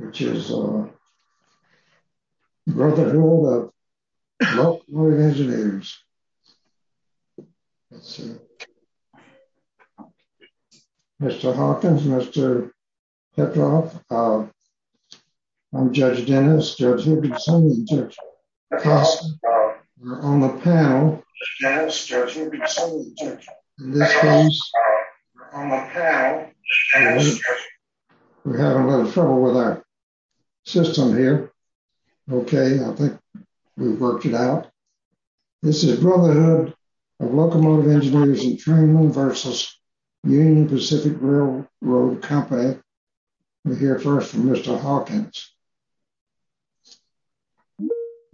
Mr. Hawkins, Mr. Petroff, I'm Judge Dennis, Judge Higginson, and Judge Costin, we're on the panel. We're having a little trouble with our system here, okay, I think we've worked it out. This is Brotherhood of Locomotive Engineers and Training v. Union Pacific Railroad Company. We'll hear first from Mr. Hawkins.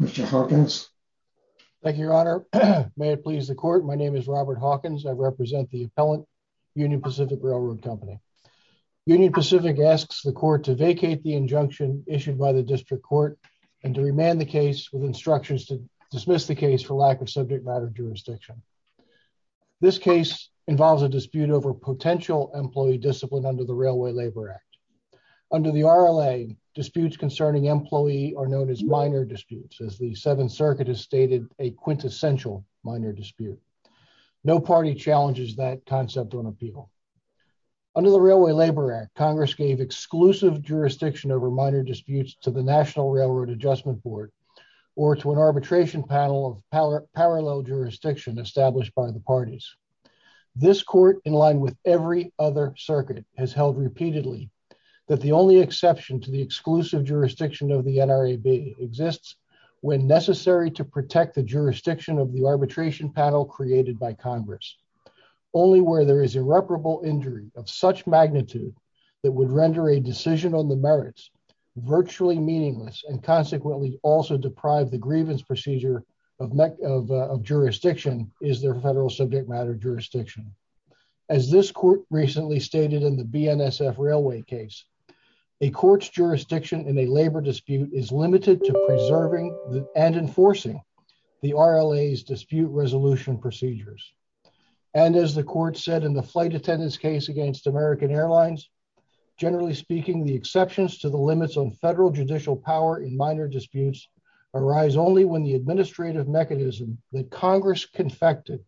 Mr. Hawkins. Thank you, Your Honor. May it please the Court, my name is Robert Hawkins, I represent the appellant, Union Pacific Railroad Company. Union Pacific asks the Court to vacate the injunction issued by the District Court and to remand the case with instructions to dismiss the case for lack of subject matter jurisdiction. This case involves a dispute over potential employee discipline under the Railway Labor Act. Under the RLA, disputes concerning employee are known as minor disputes, as the Seventh Circuit has stated, a quintessential minor dispute. No party challenges that concept on appeal. Under the Railway Labor Act, Congress gave exclusive jurisdiction over minor disputes to the National Railroad Adjustment Board or to an arbitration panel of parallel jurisdiction established by the parties. This Court, in line with every other circuit, has held repeatedly that the only exception to the exclusive jurisdiction of the NRAB exists when necessary to protect the jurisdiction of the arbitration panel created by Congress. Only where there is irreparable injury of such magnitude that would render a decision on the merits virtually meaningless and consequently also deprive the grievance procedure of jurisdiction is their federal subject matter jurisdiction. As this Court recently stated in the BNSF Railway case, a court's jurisdiction in a labor dispute is limited to preserving and enforcing the RLA's dispute resolution procedures. And as the Court said in the Flight Attendant's case against American Airlines, generally speaking the exceptions to the limits on federal judicial power in minor disputes arise only when the administrative mechanism that Congress confected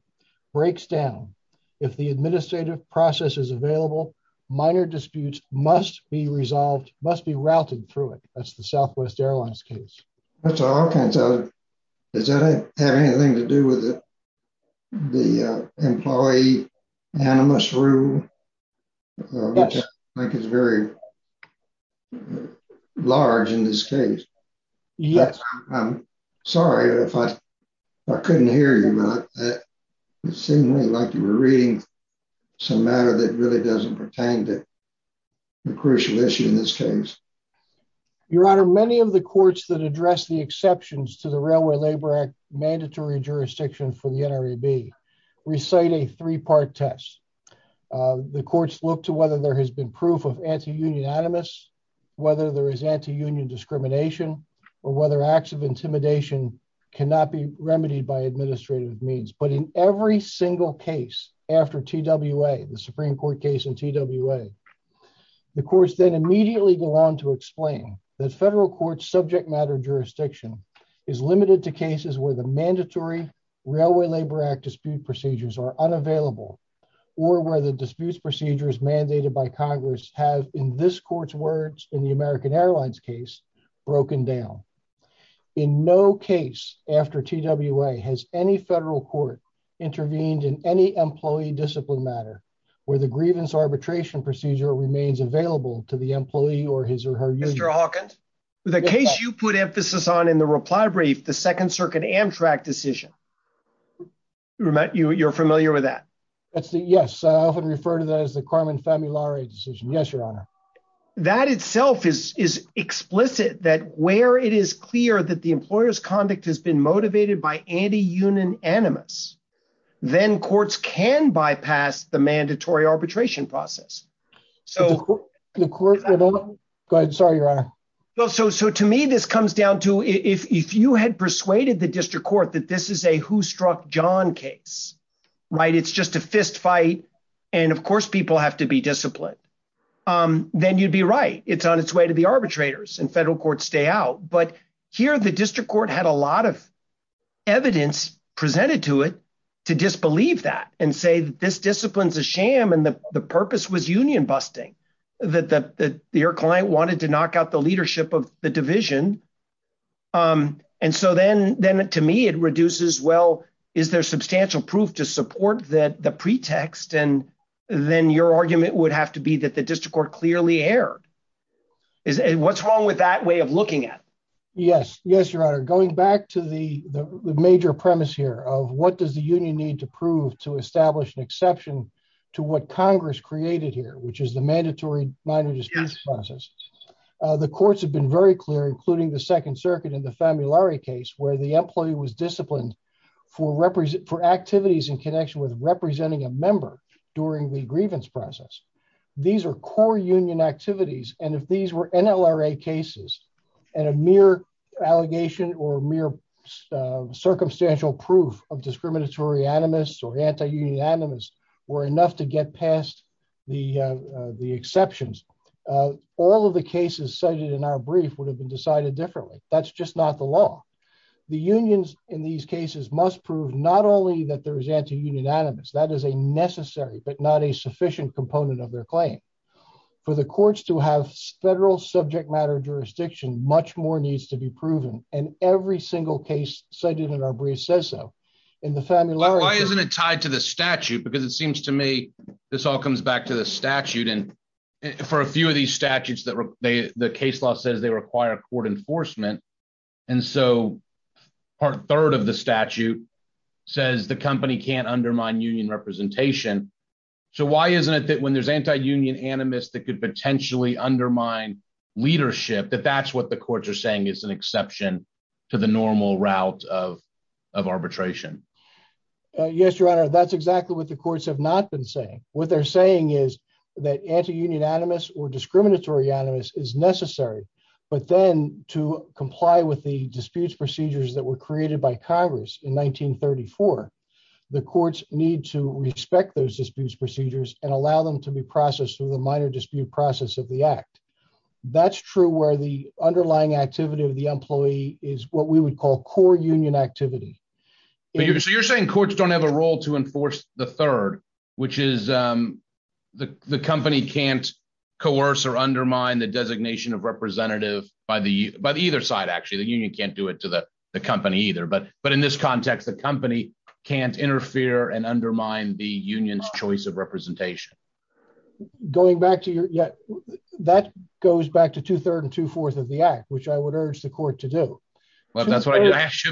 breaks down. If the administrative process is available, minor disputes must be resolved, must be routed through it. That's the Southwest Airlines case. That's all kinds of... Does that have anything to do with the employee animus rule, which I think is very large in this case? Yes. I'm sorry if I couldn't hear you, but it seemed to me like you were reading some matter that really doesn't pertain to the crucial issue in this case. Your Honor, many of the courts that address the exceptions to the Railway Labor Act mandatory jurisdiction for the NRAB recite a three-part test. The courts look to whether there has been proof of anti-union animus, whether there has been evidence that the acts of intimidation cannot be remedied by administrative means. But in every single case after TWA, the Supreme Court case in TWA, the courts then immediately go on to explain that federal court's subject matter jurisdiction is limited to cases where the mandatory Railway Labor Act dispute procedures are unavailable or where the disputes procedures mandated by Congress have, in this court's words, in the American Airlines case, broken down. In no case after TWA has any federal court intervened in any employee discipline matter where the grievance arbitration procedure remains available to the employee or his or her union. Mr. Hawkins, the case you put emphasis on in the reply brief, the Second Circuit Amtrak decision, you're familiar with that? Yes. I often refer to that as the Carmen Familare decision. Yes, Your Honor. That itself is explicit that where it is clear that the employer's conduct has been motivated by anti-union animus, then courts can bypass the mandatory arbitration process. Go ahead, sorry, Your Honor. To me, this comes down to if you had persuaded the district court that this is a who struck John case, it's just a fist fight, and of course, people have to be disciplined. Then you'd be right. It's on its way to the arbitrators and federal courts stay out. But here, the district court had a lot of evidence presented to it to disbelieve that and say that this discipline is a sham and the purpose was union busting, that your client wanted to knock out the leadership of the division. And so then to me, it reduces, well, is there substantial proof to support the pretext? And then your argument would have to be that the district court clearly erred. What's wrong with that way of looking at? Yes. Yes, Your Honor. Going back to the major premise here of what does the union need to prove to establish an exception to what Congress created here, which is the mandatory minor disputes process. The courts have been very clear, including the Second Circuit in the Familare case, where the employee was disciplined for activities in connection with representing a member during the grievance process. These are core union activities. And if these were NLRA cases and a mere allegation or mere circumstantial proof of discriminatory animus or anti-union animus were enough to get past the exceptions, all of the cases cited in our brief would have been decided differently. That's just not the law. The unions in these cases must prove not only that there is anti-union animus. That is a necessary, but not a sufficient component of their claim. For the courts to have federal subject matter jurisdiction, much more needs to be proven. And every single case cited in our brief says so. In the Familare case- Why isn't it tied to the statute? Because it seems to me this all comes back to the statute and for a few of these statutes the case law says they require court enforcement. And so part third of the statute says the company can't undermine union representation. So why isn't it that when there's anti-union animus that could potentially undermine leadership, that that's what the courts are saying is an exception to the normal route of arbitration? Yes, Your Honor, that's exactly what the courts have not been saying. What they're saying is that anti-union animus or discriminatory animus is necessary. But then to comply with the disputes procedures that were created by Congress in 1934, the courts need to respect those disputes procedures and allow them to be processed through the minor dispute process of the act. That's true where the underlying activity of the employee is what we would call core union activity. So you're saying courts don't have a role to enforce the third, which is the company can't coerce or undermine the designation of representative by the either side, actually, the union can't do it to the company either. But in this context, the company can't interfere and undermine the union's choice of representation. Going back to your- that goes back to two third and two fourth of the act, which I would urge the court to do. Well, that's what I asked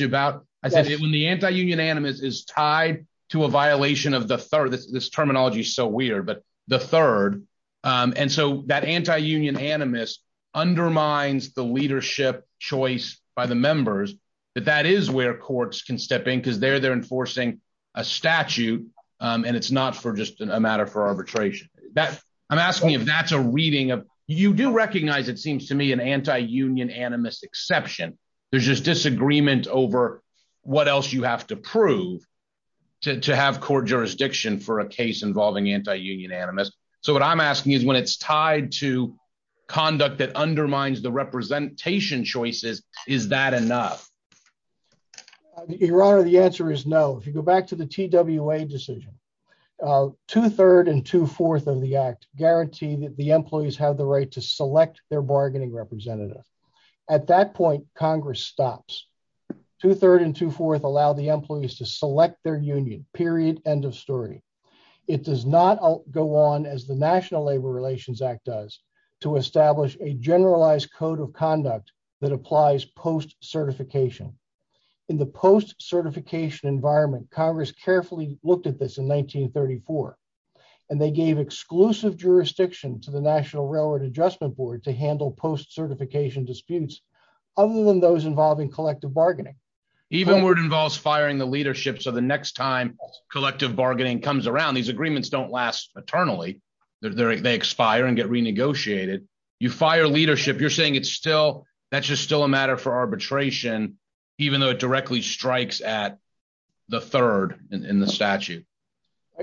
you about, I said when the anti-union animus is tied to a violation of the third, this terminology is so weird, but the third. And so that anti-union animus undermines the leadership choice by the members, that that is where courts can step in because they're enforcing a statute. And it's not for just a matter for arbitration. I'm asking if that's a reading of- you do recognize, it seems to me, an anti-union animus exception. There's just disagreement over what else you have to prove to have court jurisdiction for a case involving anti-union animus. So what I'm asking is when it's tied to conduct that undermines the representation choices, is that enough? Your Honor, the answer is no. If you go back to the TWA decision, two third and two fourth of the act guarantee that the employees have the right to select their bargaining representative. At that point, Congress stops. Two third and two fourth allow the employees to select their union, period, end of story. It does not go on as the National Labor Relations Act does to establish a generalized code of conduct that applies post-certification. In the post-certification environment, Congress carefully looked at this in 1934. And they gave exclusive jurisdiction to the National Railroad Adjustment Board to handle post-certification disputes other than those involving collective bargaining. Even where it involves firing the leadership. So the next time collective bargaining comes around, these agreements don't last eternally. They expire and get renegotiated. You fire leadership. You're saying it's still- that's just still a matter for arbitration, even though it directly strikes at the third in the statute.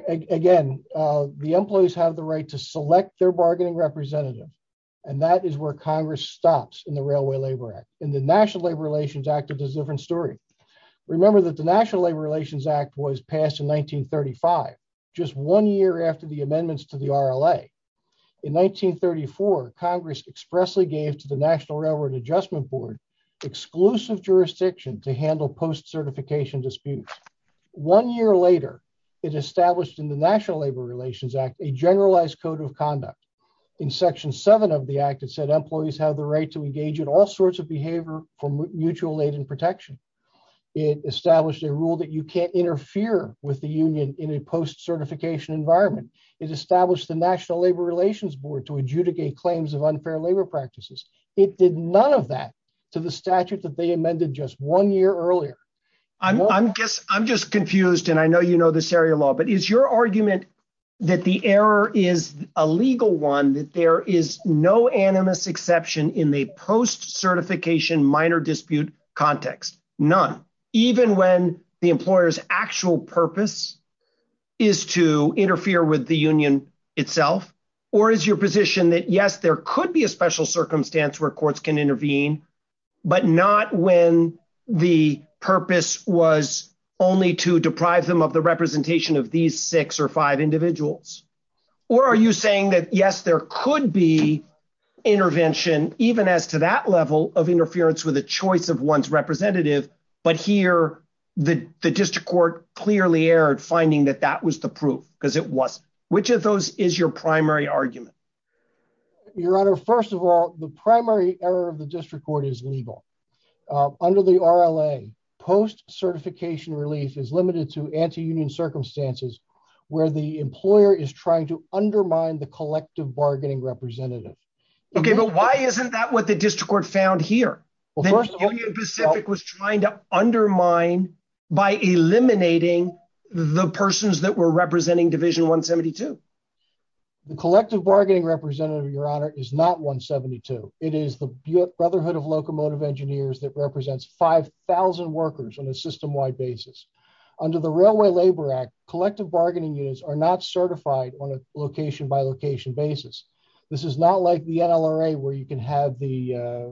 Again, the employees have the right to select their bargaining representative. And that is where Congress stops in the Railway Labor Act. In the National Labor Relations Act, it is a different story. Remember that the National Labor Relations Act was passed in 1935, just one year after the amendments to the RLA. In 1934, Congress expressly gave to the National Railroad Adjustment Board exclusive jurisdiction to handle post-certification disputes. One year later, it established in the National Labor Relations Act a generalized code of section 7 of the act that said employees have the right to engage in all sorts of behavior for mutual aid and protection. It established a rule that you can't interfere with the union in a post-certification environment. It established the National Labor Relations Board to adjudicate claims of unfair labor practices. It did none of that to the statute that they amended just one year earlier. I'm just confused, and I know you know this area of law, but is your argument that the there's no animus exception in the post-certification minor dispute context? None. Even when the employer's actual purpose is to interfere with the union itself? Or is your position that, yes, there could be a special circumstance where courts can intervene, but not when the purpose was only to deprive them of the representation of these six or five individuals? Or are you saying that, yes, there could be intervention, even as to that level of interference with a choice of one's representative, but here the district court clearly erred, finding that that was the proof, because it wasn't? Which of those is your primary argument? Your Honor, first of all, the primary error of the district court is legal. Under the RLA, post-certification relief is limited to anti-union circumstances where the employer is trying to undermine the collective bargaining representative. Okay, but why isn't that what the district court found here? That Union Pacific was trying to undermine by eliminating the persons that were representing Division 172? The collective bargaining representative, Your Honor, is not 172. It is the Brotherhood of Locomotive Engineers that represents 5,000 workers on a system-wide basis. Under the Railway Labor Act, collective bargaining units are not certified on a location-by-location basis. This is not like the NLRA, where you can have the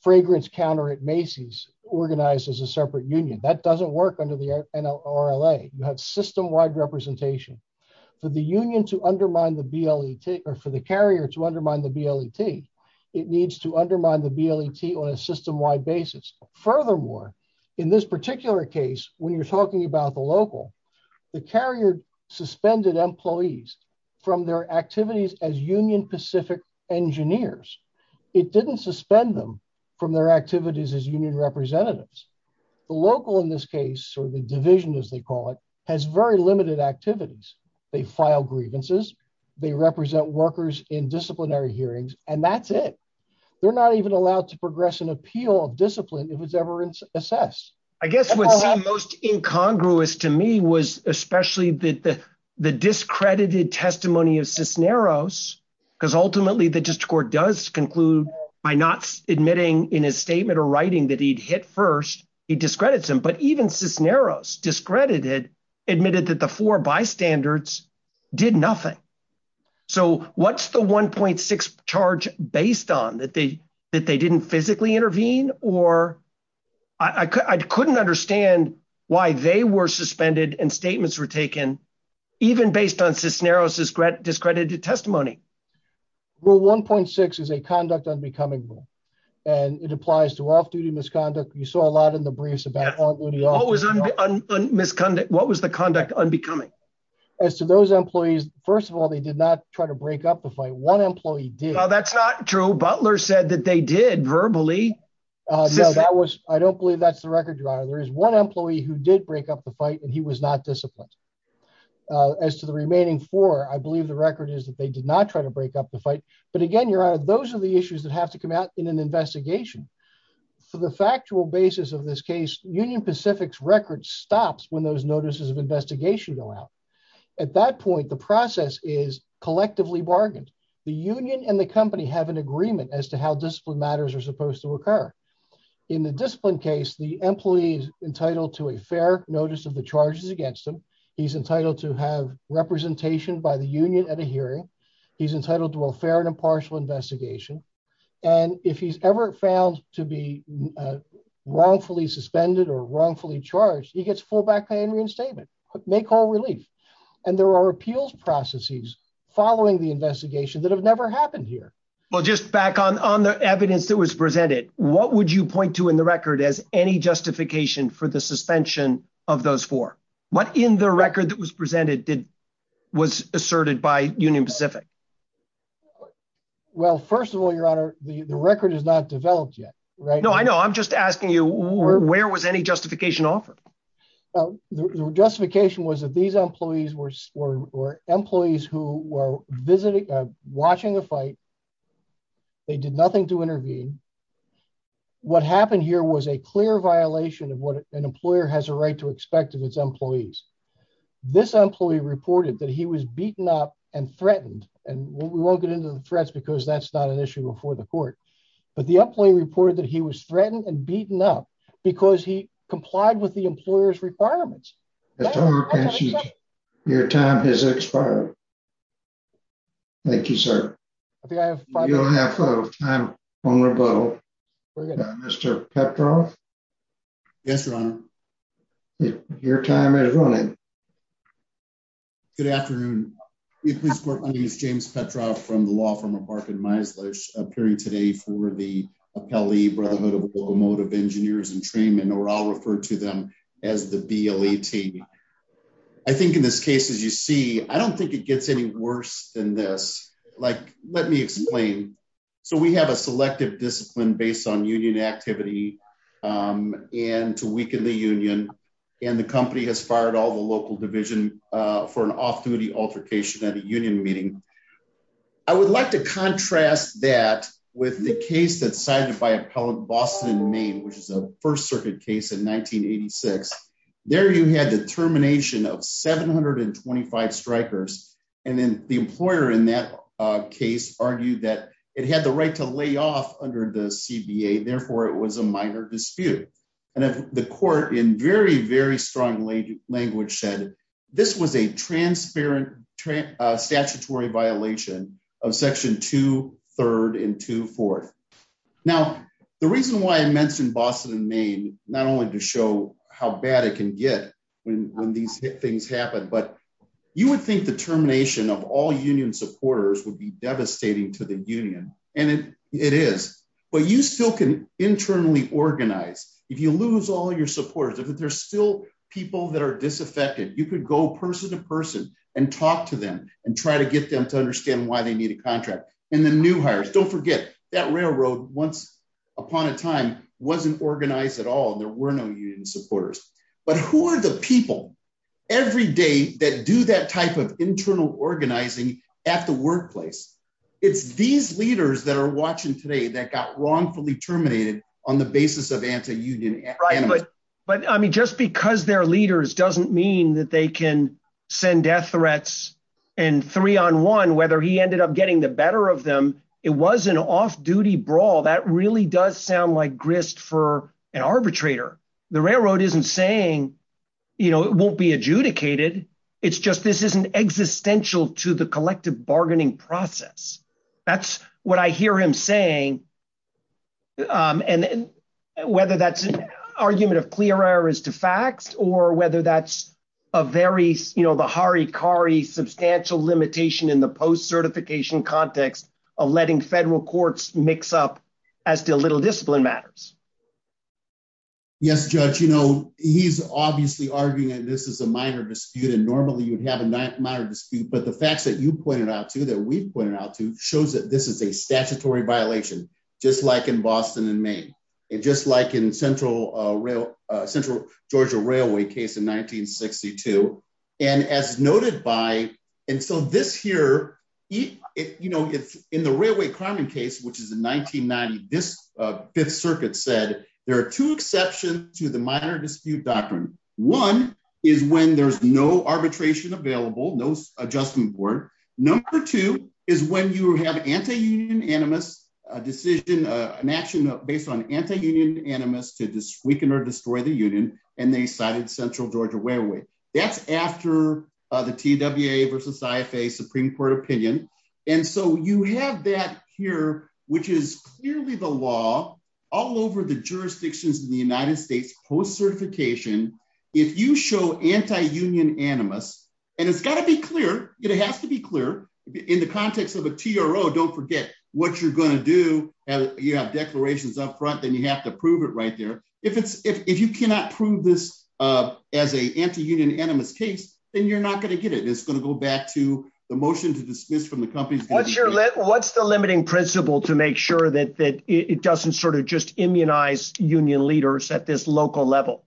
fragrance counter at Macy's organized as a separate union. That doesn't work under the NLRA. You have system-wide representation. For the carrier to undermine the BLET, it needs to undermine the BLET on a system-wide basis. Furthermore, in this particular case, when you're talking about the local, the carrier suspended employees from their activities as Union Pacific engineers. It didn't suspend them from their activities as union representatives. The local in this case, or the division as they call it, has very limited activities. They file grievances. They represent workers in disciplinary hearings, and that's it. They're not even allowed to progress an appeal of discipline if it's ever assessed. I guess what seemed most incongruous to me was especially the discredited testimony of Cisneros, because ultimately the district court does conclude by not admitting in his statement or writing that he'd hit first, he discredits him. But even Cisneros, discredited, admitted that the four bystanders did nothing. So what's the 1.6 charge based on, that they didn't physically intervene, or I couldn't understand why they were suspended and statements were taken even based on Cisneros' discredited testimony. Rule 1.6 is a conduct unbecoming rule, and it applies to off-duty misconduct. You saw a lot in the briefs about what was the conduct unbecoming. As to those employees, first of all, they did not try to break up the fight. One employee did. No, that's not true. Butler said that they did, verbally. No, I don't believe that's the record, Your Honor. There is one employee who did break up the fight, and he was not disciplined. As to the remaining four, I believe the record is that they did not try to break up the fight. But again, Your Honor, those are the issues that have to come out in an investigation. For the factual basis of this case, Union Pacific's record stops when those notices of investigation go out. At that point, the process is collectively bargained. The union and the company have an agreement as to how discipline matters are supposed to occur. In the discipline case, the employee is entitled to a fair notice of the charges against him. He's entitled to have representation by the union at a hearing. He's entitled to a fair and impartial investigation, and if he's ever found to be wrongfully suspended or wrongfully charged, he gets full back pay and reinstatement, make whole relief. And there are appeals processes following the investigation that have never happened here. Well, just back on the evidence that was presented, what would you point to in the record as any justification for the suspension of those four? What in the record that was presented was asserted by Union Pacific? Well, first of all, Your Honor, the record is not developed yet. No, I know. I'm just asking you, where was any justification offered? The justification was that these employees were employees who were visiting, watching the fight. They did nothing to intervene. What happened here was a clear violation of what an employer has a right to expect of its employees. This employee reported that he was beaten up and threatened, and we won't get into the threats because that's not an issue before the court. But the employee reported that he was threatened and beaten up because he complied with the employer's requirements. Your time has expired. Thank you, sir. I think I have time on rebuttal, Mr. Petroff. Yes, Your Honor. Your time is running. Good afternoon. My name is James Petroff from the law firm of Barkin-Meisler, appearing today for the Appellee Brotherhood of Locomotive Engineers and Trainmen, or I'll refer to them as the BLA team. I think in this case, as you see, I don't think it gets any worse than this. Like let me explain. So we have a selective discipline based on union activity and to weaken the union, and the company has fired all the local division for an off-duty altercation at a union meeting. I would like to contrast that with the case that's cited by Appellate Boston and Maine, which is a First Circuit case in 1986. There you had the termination of 725 strikers, and then the employer in that case argued that it had the right to lay off under the CBA, therefore it was a minor dispute. And the court in very, very strong language said this was a transparent statutory violation of Section 2, 3rd, and 2, 4th. Now the reason why I mentioned Boston and Maine, not only to show how bad it can get when these things happen, but you would think the termination of all union supporters would be devastating to the union, and it is. But you still can internally organize. If you lose all your supporters, if there's still people that are disaffected, you could go person to person and talk to them and try to get them to understand why they need a contract. And the new hires, don't forget, that railroad once upon a time wasn't organized at all, there were no union supporters. But who are the people every day that do that type of internal organizing at the workplace? It's these leaders that are watching today that got wrongfully terminated on the basis of anti-union animus. But I mean, just because they're leaders doesn't mean that they can send death threats in three on one, whether he ended up getting the better of them. It was an off-duty brawl. That really does sound like grist for an arbitrator. The railroad isn't saying it won't be adjudicated, it's just this isn't existential to the collective bargaining process. That's what I hear him saying. And whether that's an argument of clear errors to facts or whether that's a very, you know, the Hari Kari substantial limitation in the post-certification context of letting federal courts mix up as to little discipline matters. Yes, Judge, you know, he's obviously arguing that this is a minor dispute and normally you would have a minor dispute, but the facts that you pointed out to, that we've pointed out to, shows that this is a statutory violation, just like in Boston and Maine, and just like in Central Georgia Railway case in 1962. And as noted by, and so this here, you know, in the Railway Crime Case, which is in 1990, this Fifth Circuit said, there are two exceptions to the minor dispute doctrine. One is when there's no arbitration available, no adjustment board. Number two is when you have anti-union animus, a decision, an action based on anti-union animus to weaken or destroy the union, and they cited Central Georgia Railway. That's after the TWA versus IFA Supreme Court opinion. And so you have that here, which is clearly the law all over the jurisdictions in the United States post-certification. If you show anti-union animus, and it's got to be clear, it has to be clear in the context of a TRO, don't forget what you're going to do, you have declarations up front, then you have to prove it right there. If you cannot prove this as a anti-union animus case, then you're not going to get it. It's going to go back to the motion to dismiss from the company. What's the limiting principle to make sure that it doesn't sort of just immunize union leaders at this local level?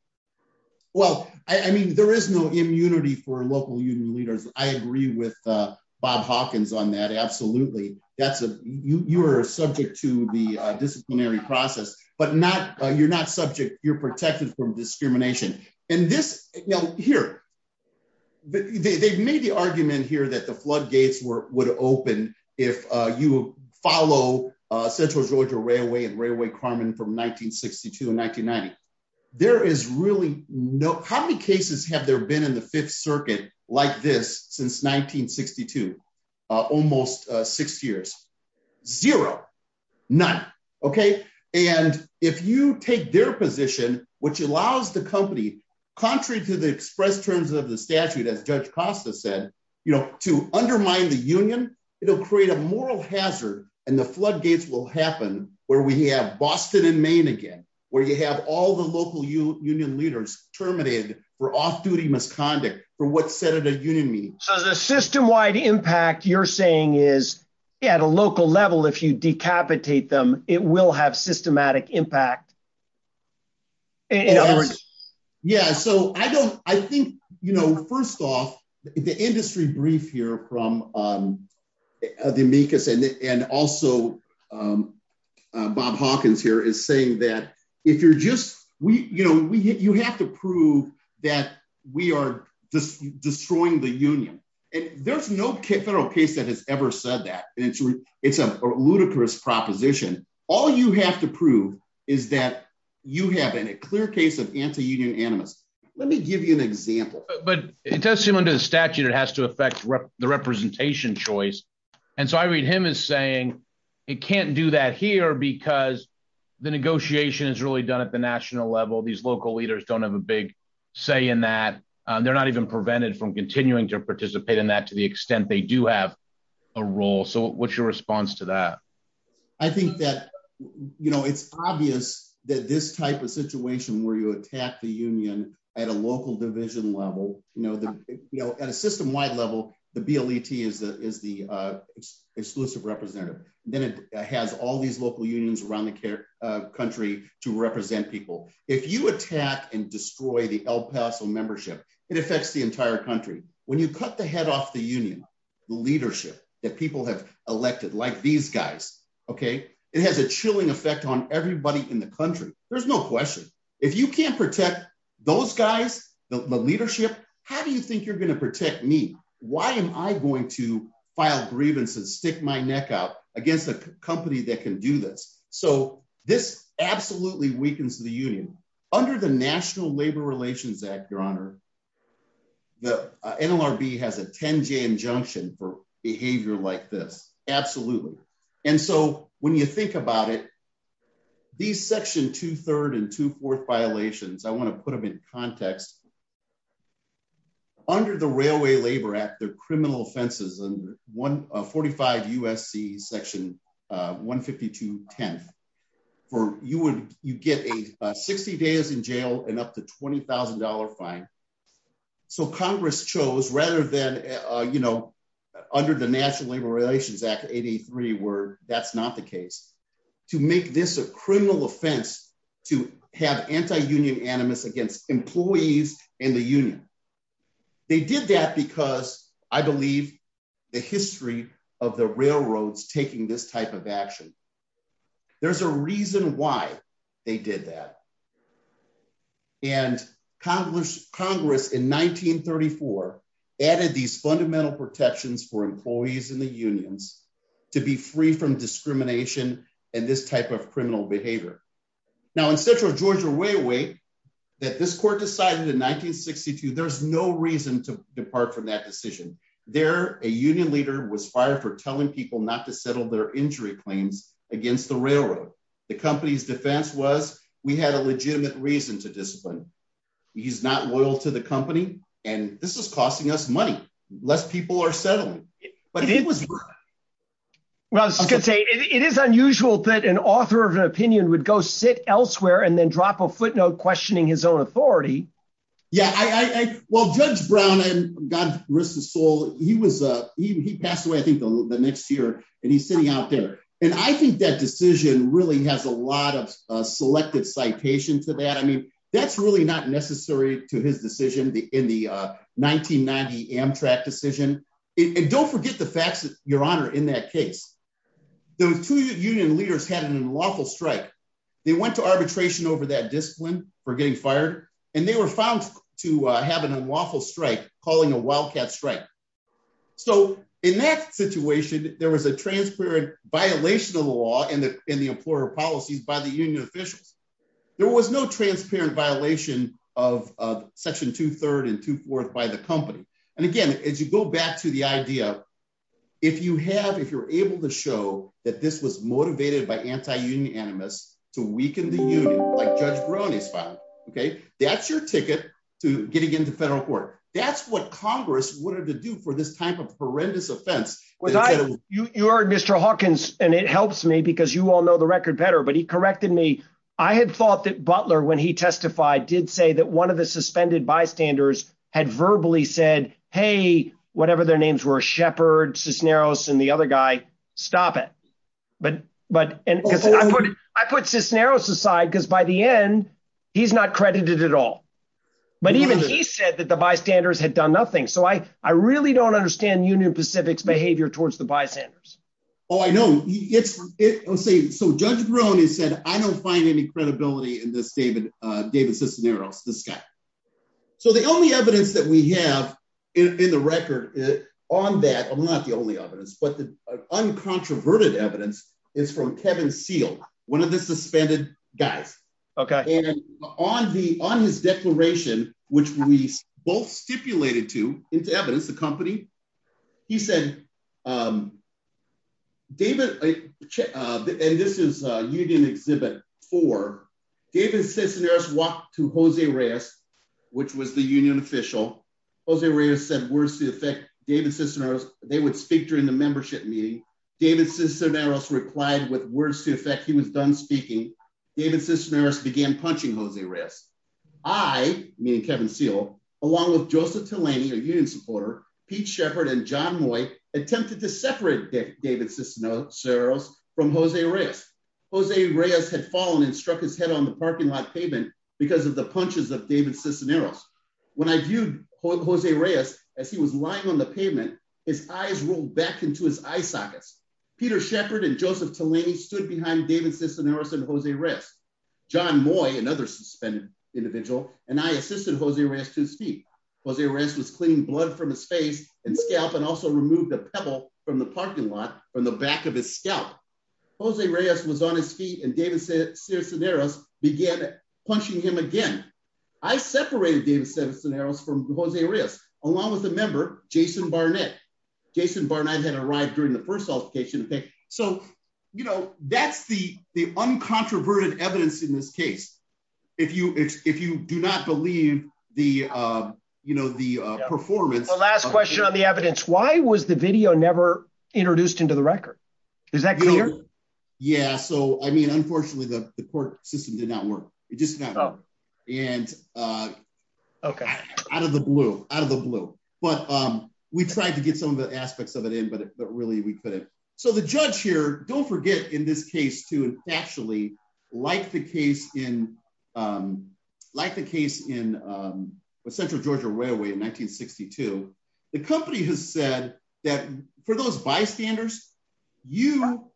Well, I mean, there is no immunity for local union leaders. I agree with Bob Hawkins on that. Absolutely. You are subject to the disciplinary process, but you're not subject, you're protected from discrimination. And this, you know, here, they've made the argument here that the floodgates would open if you follow Central Georgia Railway and Railway Carmen from 1962 and 1990. There is really no, how many cases have there been in the Fifth Circuit like this since 1962? Almost six years. Zero. None. OK. And if you take their position, which allows the company, contrary to the express terms of the statute, as Judge Costa said, you know, to undermine the union, it'll create a moral hazard. And the floodgates will happen where we have Boston and Maine again, where you have all the local union leaders terminated for off-duty misconduct for what's set at a union meeting. So the system-wide impact you're saying is at a local level, if you decapitate them, it will have systematic impact. Yeah, so I think, you know, first off, the industry brief here from the amicus and also Bob Hawkins here is saying that if you're just, you know, you have to prove that we are just destroying the union. And there's no federal case that has ever said that. It's a ludicrous proposition. All you have to prove is that you have a clear case of anti-union animus. Let me give you an example. But it does seem under the statute it has to affect the representation choice. And so I read him as saying it can't do that here because the negotiation is really done at the national level. These local leaders don't have a big say in that. They're not even prevented from continuing to participate in that to the extent they do have a role. What's your response to that? I think that, you know, it's obvious that this type of situation where you attack the union at a local division level, you know, at a system-wide level, the BLET is the exclusive representative. Then it has all these local unions around the country to represent people. If you attack and destroy the El Paso membership, it affects the entire country. When you cut the head off the union, the leadership that people have elected, like these guys, OK, it has a chilling effect on everybody in the country. There's no question. If you can't protect those guys, the leadership, how do you think you're going to protect me? Why am I going to file grievance and stick my neck out against a company that can do this? So this absolutely weakens the union. Under the National Labor Relations Act, Your Honor, the NLRB has a 10-J injunction for behavior like this. Absolutely. And so when you think about it, these Section 2-3rd and 2-4th violations, I want to put them in context. Under the Railway Labor Act, they're criminal offenses. 45 U.S.C. Section 152-10th, you get 60 days in jail and up to $20,000 fine. So Congress chose, rather than under the National Labor Relations Act, 883, where that's not the case, to make this a criminal offense to have anti-union animus against employees in the union. They did that because, I believe, the history of the railroads taking this type of action. There's a reason why they did that. And Congress, in 1934, added these fundamental protections for employees in the unions to be free from discrimination and this type of criminal behavior. Now, in Central Georgia Railway, that this court decided in 1962, there's no reason to depart from that decision. There, a union leader was fired for telling people not to settle their injury claims against the railroad. The company's defense was, we had a legitimate reason to discipline. He's not loyal to the company. And this is costing us money. Less people are settling. But it was worth it. Well, I was going to say, it is unusual that an author of an opinion would go sit elsewhere and then drop a footnote questioning his own authority. Yeah, well, Judge Brown, and God rest his soul, he passed away, I think, the next year. And he's sitting out there. And I think that decision really has a lot of selective citation to that. I mean, that's really not necessary to his decision in the 1990 Amtrak decision. And don't forget the facts, Your Honor, in that case. Those two union leaders had an unlawful strike. They went to arbitration over that discipline for getting fired. And they were found to have an unlawful strike, calling a wildcat strike. So in that situation, there was a transparent violation of the law and the employer policies by the union officials. There was no transparent violation of Section 2-3 and 2-4 by the company. And again, as you go back to the idea, if you have, if you're able to show that this was motivated by anti-union animus to weaken the union, like Judge Brony's file, okay, that's your ticket to getting into federal court. That's what Congress wanted to do for this type of horrendous offense. Well, you are Mr. Hawkins, and it helps me because you all know the record better. But he corrected me. I had thought that Butler, when he testified, did say that one of the suspended bystanders had verbally said, hey, whatever their names were, Shepard, Cisneros, and the other guy, stop it. But I put Cisneros aside because by the end, he's not credited at all. But even he said that the bystanders had done nothing. So I really don't understand Union Pacific's behavior towards the bystanders. Oh, I know. So Judge Brony said, I don't find any credibility in this David Cisneros, this guy. So the only evidence that we have in the record on that, I'm not the only evidence, but the uncontroverted evidence is from Kevin Seale, one of the suspended guys. Okay. And on his declaration, which we both stipulated to into evidence, the company, he said, David, and this is Union Exhibit 4, David Cisneros walked to Jose Reyes, which was the union official. Jose Reyes said, words to the effect, David Cisneros, they would speak during the membership meeting. David Cisneros replied with words to the effect, he was done speaking. David Cisneros began punching Jose Reyes. I, meaning Kevin Seale, along with Joseph Telaney, a union supporter, Pete Shepard, and John Moy attempted to separate David Cisneros from Jose Reyes. Jose Reyes had fallen and struck his head on the parking lot pavement because of the punches of David Cisneros. When I viewed Jose Reyes as he was lying on the pavement, his eyes rolled back into his eye sockets. Peter Shepard and Joseph Telaney stood behind David Cisneros and Jose Reyes. John Moy, another suspended individual, and I assisted Jose Reyes to his feet. Jose Reyes was cleaning blood from his face and scalp and also removed a pebble from the parking lot from the back of his scalp. Jose Reyes was on his feet and David Cisneros began punching him again. I separated David Cisneros from Jose Reyes, along with a member, Jason Barnett. Jason Barnett had arrived during the first altercation. So, you know, that's the uncontroverted evidence in this case. If you do not believe the, you know, the performance. The last question on the evidence. Why was the video never introduced into the record? Is that clear? Yeah. So, I mean, unfortunately, the court system did not work. It just got out of the blue, out of the blue. But we tried to get some of the aspects of it in, but really we couldn't. So the judge here, don't forget in this case to actually like the case in, like the case in Central Georgia Railway in 1962. The company has said that for those bystanders, you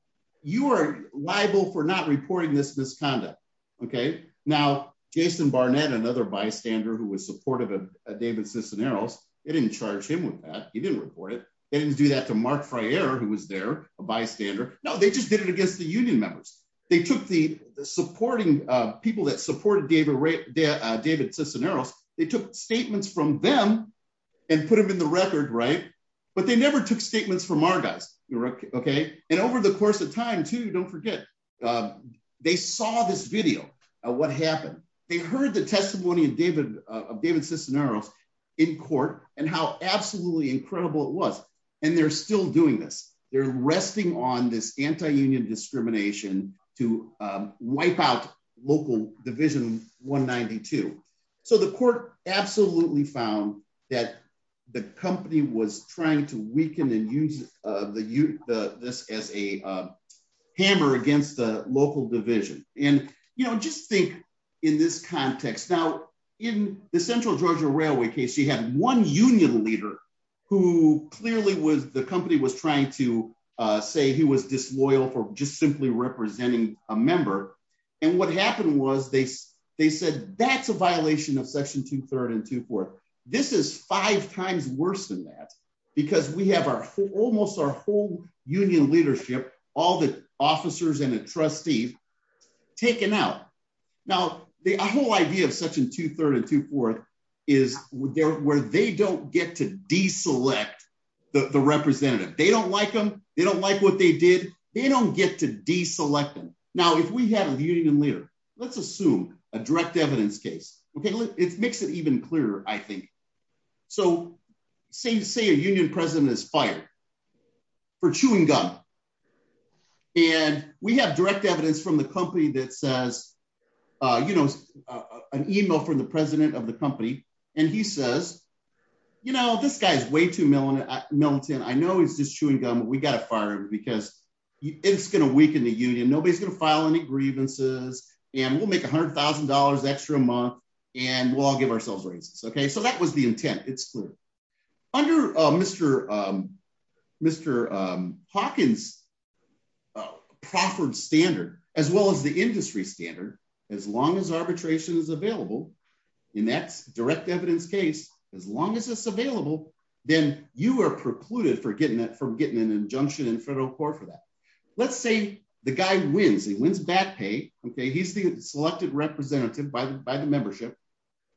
are liable for not reporting this misconduct. Okay. Now, Jason Barnett, another bystander who was supportive of David Cisneros. It didn't charge him with that. He didn't report it. They didn't do that to Mark Friere, who was there, a bystander. No, they just did it against the union members. They took the supporting people that supported David Cisneros. They took statements from them and put them in the record. Right. But they never took statements from our guys. Okay. And over the course of time too, don't forget. They saw this video of what happened. They heard the testimony of David Cisneros in court and how absolutely incredible it was. They're still doing this. They're resting on this anti-union discrimination to wipe out local division 192. The court absolutely found that the company was trying to weaken and use this as a hammer against the local division. Just think in this context. Now, in the Central Georgia Railway case, you had one union leader who clearly was, the company was trying to say he was disloyal for just simply representing a member. And what happened was they said, that's a violation of section two, third and two, fourth. This is five times worse than that because we have almost our whole union leadership, all the officers and the trustees taken out. Now, the whole idea of section two, third and two, fourth is where they don't get to de-select the representative. They don't like them. They don't like what they did. They don't get to de-select them. Now, if we have a union leader, let's assume a direct evidence case. Okay. It makes it even clearer, I think. So say a union president is fired for chewing gum. And we have direct evidence from the company that says, an email from the president of the company. And he says, this guy's way too militant. I know he's just chewing gum, but we got to fire him because it's going to weaken the union. Nobody's going to file any grievances and we'll make $100,000 extra a month and we'll all give ourselves raises. Okay. So that was the intent. It's clear. Under Mr. Hawkins proffered standard, as well as the industry standard, as long as arbitration is available in that direct evidence case, as long as it's available, then you are precluded from getting an injunction in federal court for that. Let's say the guy wins. He wins bad pay. Okay. He's the selected representative by the membership.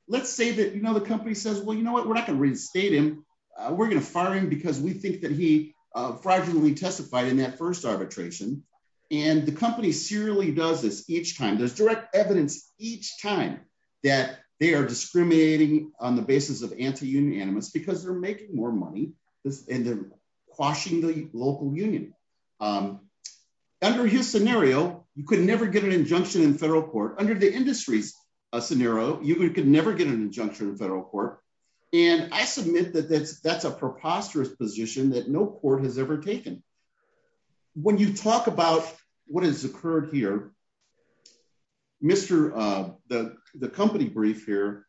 Let's say that the company says, well, you know what? We're not going to reinstate him. We're going to fire him because we think that he fraudulently testified in that first arbitration. And the company serially does this each time. There's direct evidence each time that they are discriminating on the basis of anti-union animus because they're making more money and they're quashing the local union. Under his scenario, you could never get an injunction in federal court. Under the industry's scenario, you could never get an injunction in federal court. And I submit that that's a preposterous position that no court has ever taken. When you talk about what has occurred here, the company brief here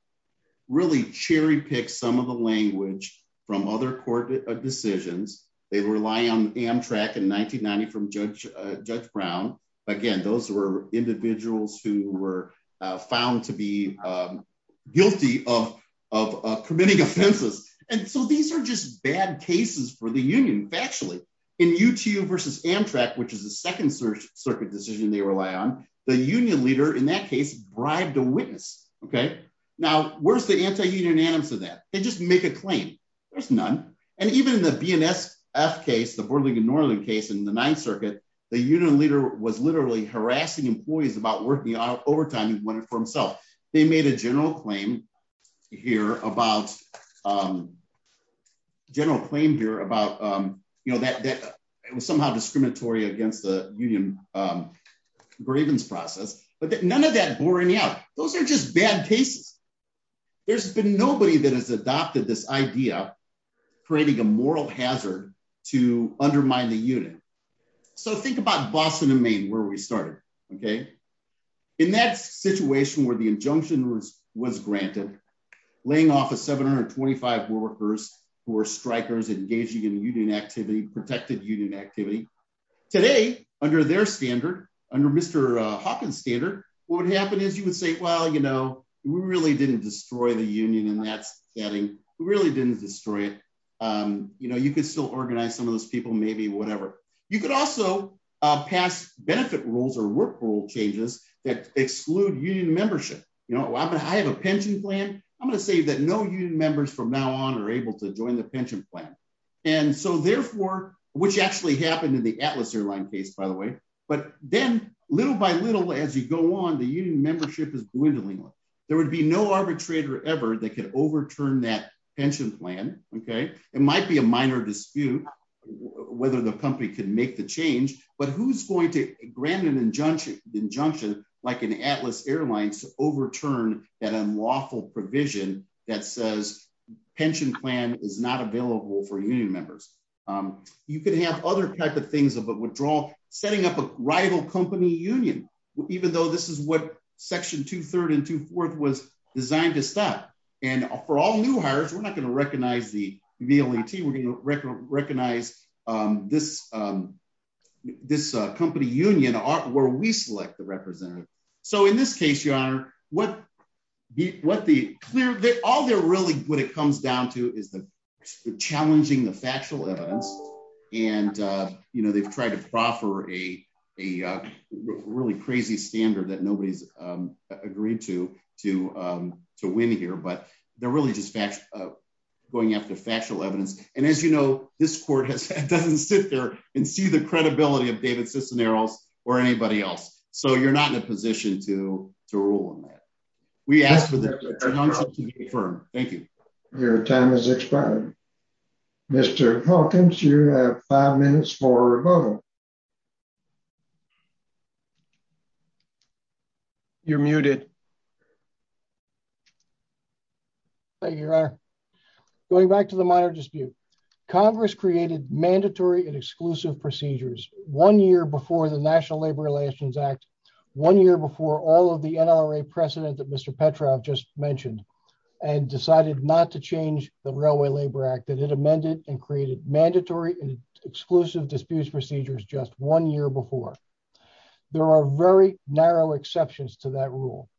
really cherry picks some of the language from other court decisions. They rely on Amtrak in 1990 from Judge Brown. Again, those were individuals who were found to be guilty of committing offenses. And so these are just bad cases for the union. Factually, in UTU versus Amtrak, which is the second circuit decision they rely on, the union leader in that case bribed a witness. Okay. Now, where's the anti-union animus of that? They just make a claim. There's none. And even in the BNSF case, the border league in Northern case in the ninth circuit, the union leader was literally harassing employees about working overtime. He wanted it for himself. They made a general claim here about that it was somehow discriminatory against the union grievance process. But none of that bore any out. Those are just bad cases. There's been nobody that has adopted this idea, creating a moral hazard to undermine the union. So think about Boston and Maine, where we started. Okay. In that situation where the injunction was granted, laying off a 725 workers who were strikers engaging in union activity, protected union activity. Today, under their standard, under Mr. Hawkins' standard, what would happen is you would say, well, you know, we really didn't destroy the union in that setting. We really didn't destroy it. You could still organize some of those people, maybe, whatever. You could also pass benefit rules or work rule changes that exclude union membership. You know, I have a pension plan. I'm going to say that no union members from now on are able to join the pension plan. And so therefore, which actually happened in the Atlas airline case, by the way, but then little by little, as you go on, the union membership is dwindling. There would be no arbitrator ever that could overturn that pension plan. Okay. It might be a minor dispute whether the company could make the change, but who's going to grant an injunction like an Atlas airlines to overturn that unlawful provision that says pension plan is not available for union members. You could have other types of things of a withdrawal, setting up a rival company union, even though this is what section two third and two fourth was designed to stop. And for all new hires, we're not going to recognize the VLAT. We're going to recognize this company union where we select the representative. So in this case, your honor, what the clear that all they're really what it comes down to is the challenging the factual evidence. And, you know, they've tried to proffer a really crazy standard that nobody's agreed to, to, to win here, but they're really just going after factual evidence. And as you know, this court has, it doesn't sit there and see the credibility of David Cisneros or anybody else. So you're not in a position to, to rule on that. We asked for the firm. Thank you. Your time is expired. You're muted. Thank you, your honor. Going back to the minor dispute, Congress created mandatory and exclusive procedures one year before the national labor relations act one year before all of the NLRA precedent that Mr. Petrov just mentioned and decided not to change the railway labor act that it amended and created mandatory and exclusive disputes procedures. Just one year before there are very narrow exceptions to that rule.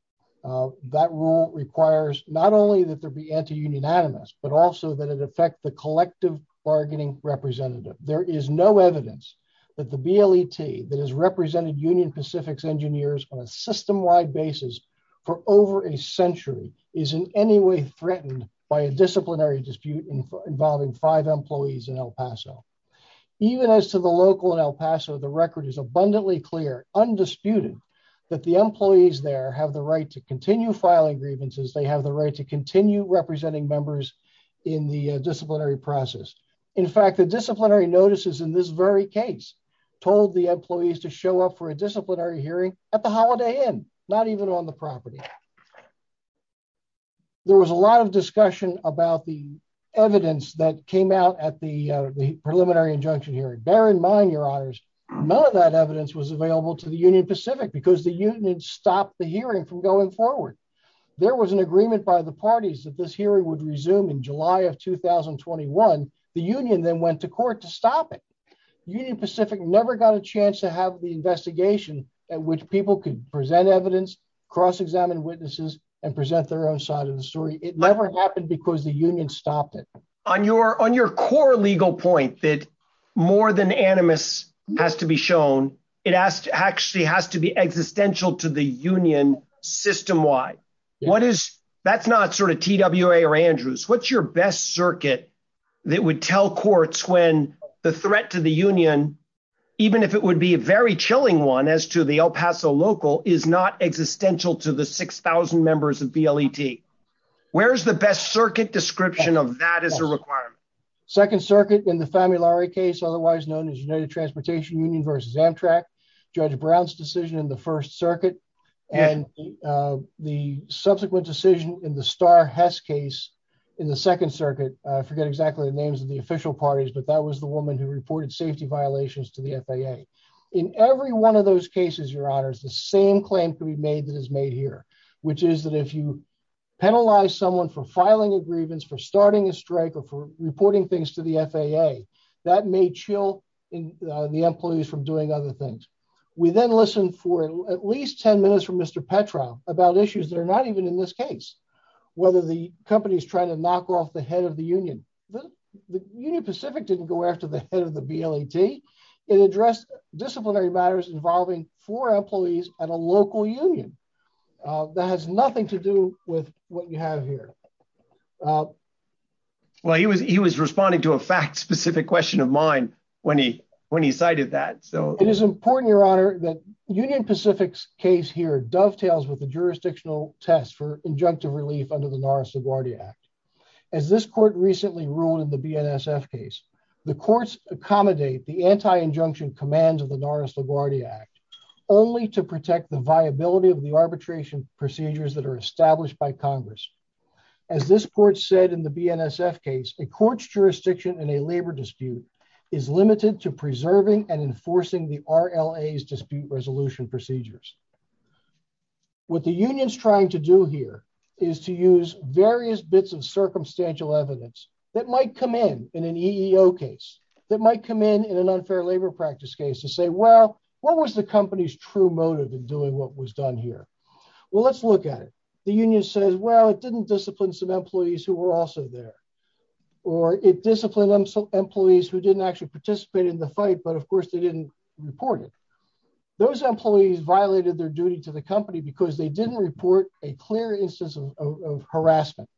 That rule requires not only that there be anti-union animus, but also that it affect the collective bargaining representative. There is no evidence that the BLET that has represented union Pacific's engineers on a system wide basis for over a century is in any way threatened by a disciplinary dispute involving five employees in El Paso. Even as to the local in El Paso, the record is abundantly clear undisputed that the employees there have the right to continue filing grievances. They have the right to continue representing members in the disciplinary process. In fact, the disciplinary notices in this very case told the employees to show up for a disciplinary hearing at the holiday inn, not even on the property. There was a lot of discussion about the evidence that came out at the preliminary injunction hearing. Bear in mind, your honors, none of that evidence was available to the union Pacific because the union stopped the hearing from going forward. There was an agreement by the parties that this hearing would resume in July of 2021. The union then went to court to stop it. Union Pacific never got a chance to have the investigation at which people could present evidence, cross examine witnesses and present their own side of the story. It never happened because the union stopped it. On your core legal point that more than animus has to be shown, it actually has to be existential to the union system-wide. That's not sort of TWA or Andrews. What's your best circuit that would tell courts when the threat to the union, even if it would be a very chilling one as to the El Paso local, is not existential to the 6,000 members of BLET? Where's the best circuit description of that as a requirement? Second circuit in the Famulari case, otherwise known as United Transportation Union versus Amtrak, Judge Brown's decision in the first circuit and the subsequent decision in the Starr-Hess case in the second circuit. I forget exactly the names of the official parties, but that was the woman who reported safety violations to the FAA. In every one of those cases, Your Honors, the same claim can be made that is made here, which is that if you penalize someone for filing a grievance, for starting a strike or for reporting things to the FAA, that may chill the employees from doing other things. We then listen for at least 10 minutes from Mr. Petra about issues that are not even in this case, whether the company is trying to knock off the head of the union. The Union Pacific didn't go after the head of the BLET. It addressed disciplinary matters involving four employees at a local union. That has nothing to do with what you have here. Well, he was responding to a fact-specific question of mine when he cited that. It is important, Your Honor, that Union Pacific's case here dovetails with the jurisdictional test for injunctive relief under the Norris-LaGuardia Act. As this court recently ruled in the BNSF case, the courts accommodate the anti-injunction commands of the Norris-LaGuardia Act only to protect the viability of the arbitration procedures that are established by Congress. As this court said in the BNSF case, a court's jurisdiction in a labor dispute is limited to preserving and enforcing the RLA's dispute resolution procedures. What the union is trying to do here is to use various bits of circumstantial evidence that might come in in an EEO case, that might come in in an unfair labor practice case to say, well, what was the company's true motive in doing what was done here? Well, let's look at it. The union says, well, it didn't discipline some employees who were also there, or it disciplined some employees who didn't actually participate in the fight, but of course they didn't report it. Those employees violated their duty to the company because they didn't report a clear instance of harassment.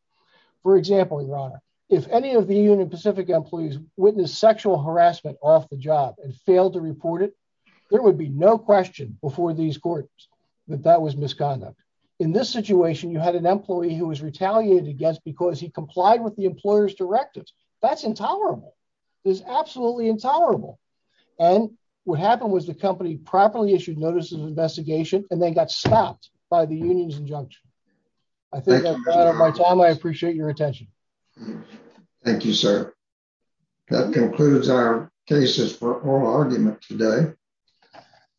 For example, Your Honor, if any of the Union Pacific employees witnessed sexual harassment off the job and failed to report it, there would be no question before these courts that that was misconduct. In this situation, you had an employee who was retaliated against because he complied with the employer's directives. That's intolerable. It's absolutely intolerable. And what happened was the company properly issued notices of investigation and then got stopped by the union's injunction. I think I've run out of my time. I appreciate your attention. Thank you, sir. That concludes our cases for oral argument today.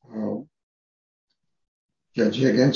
Well, judge against.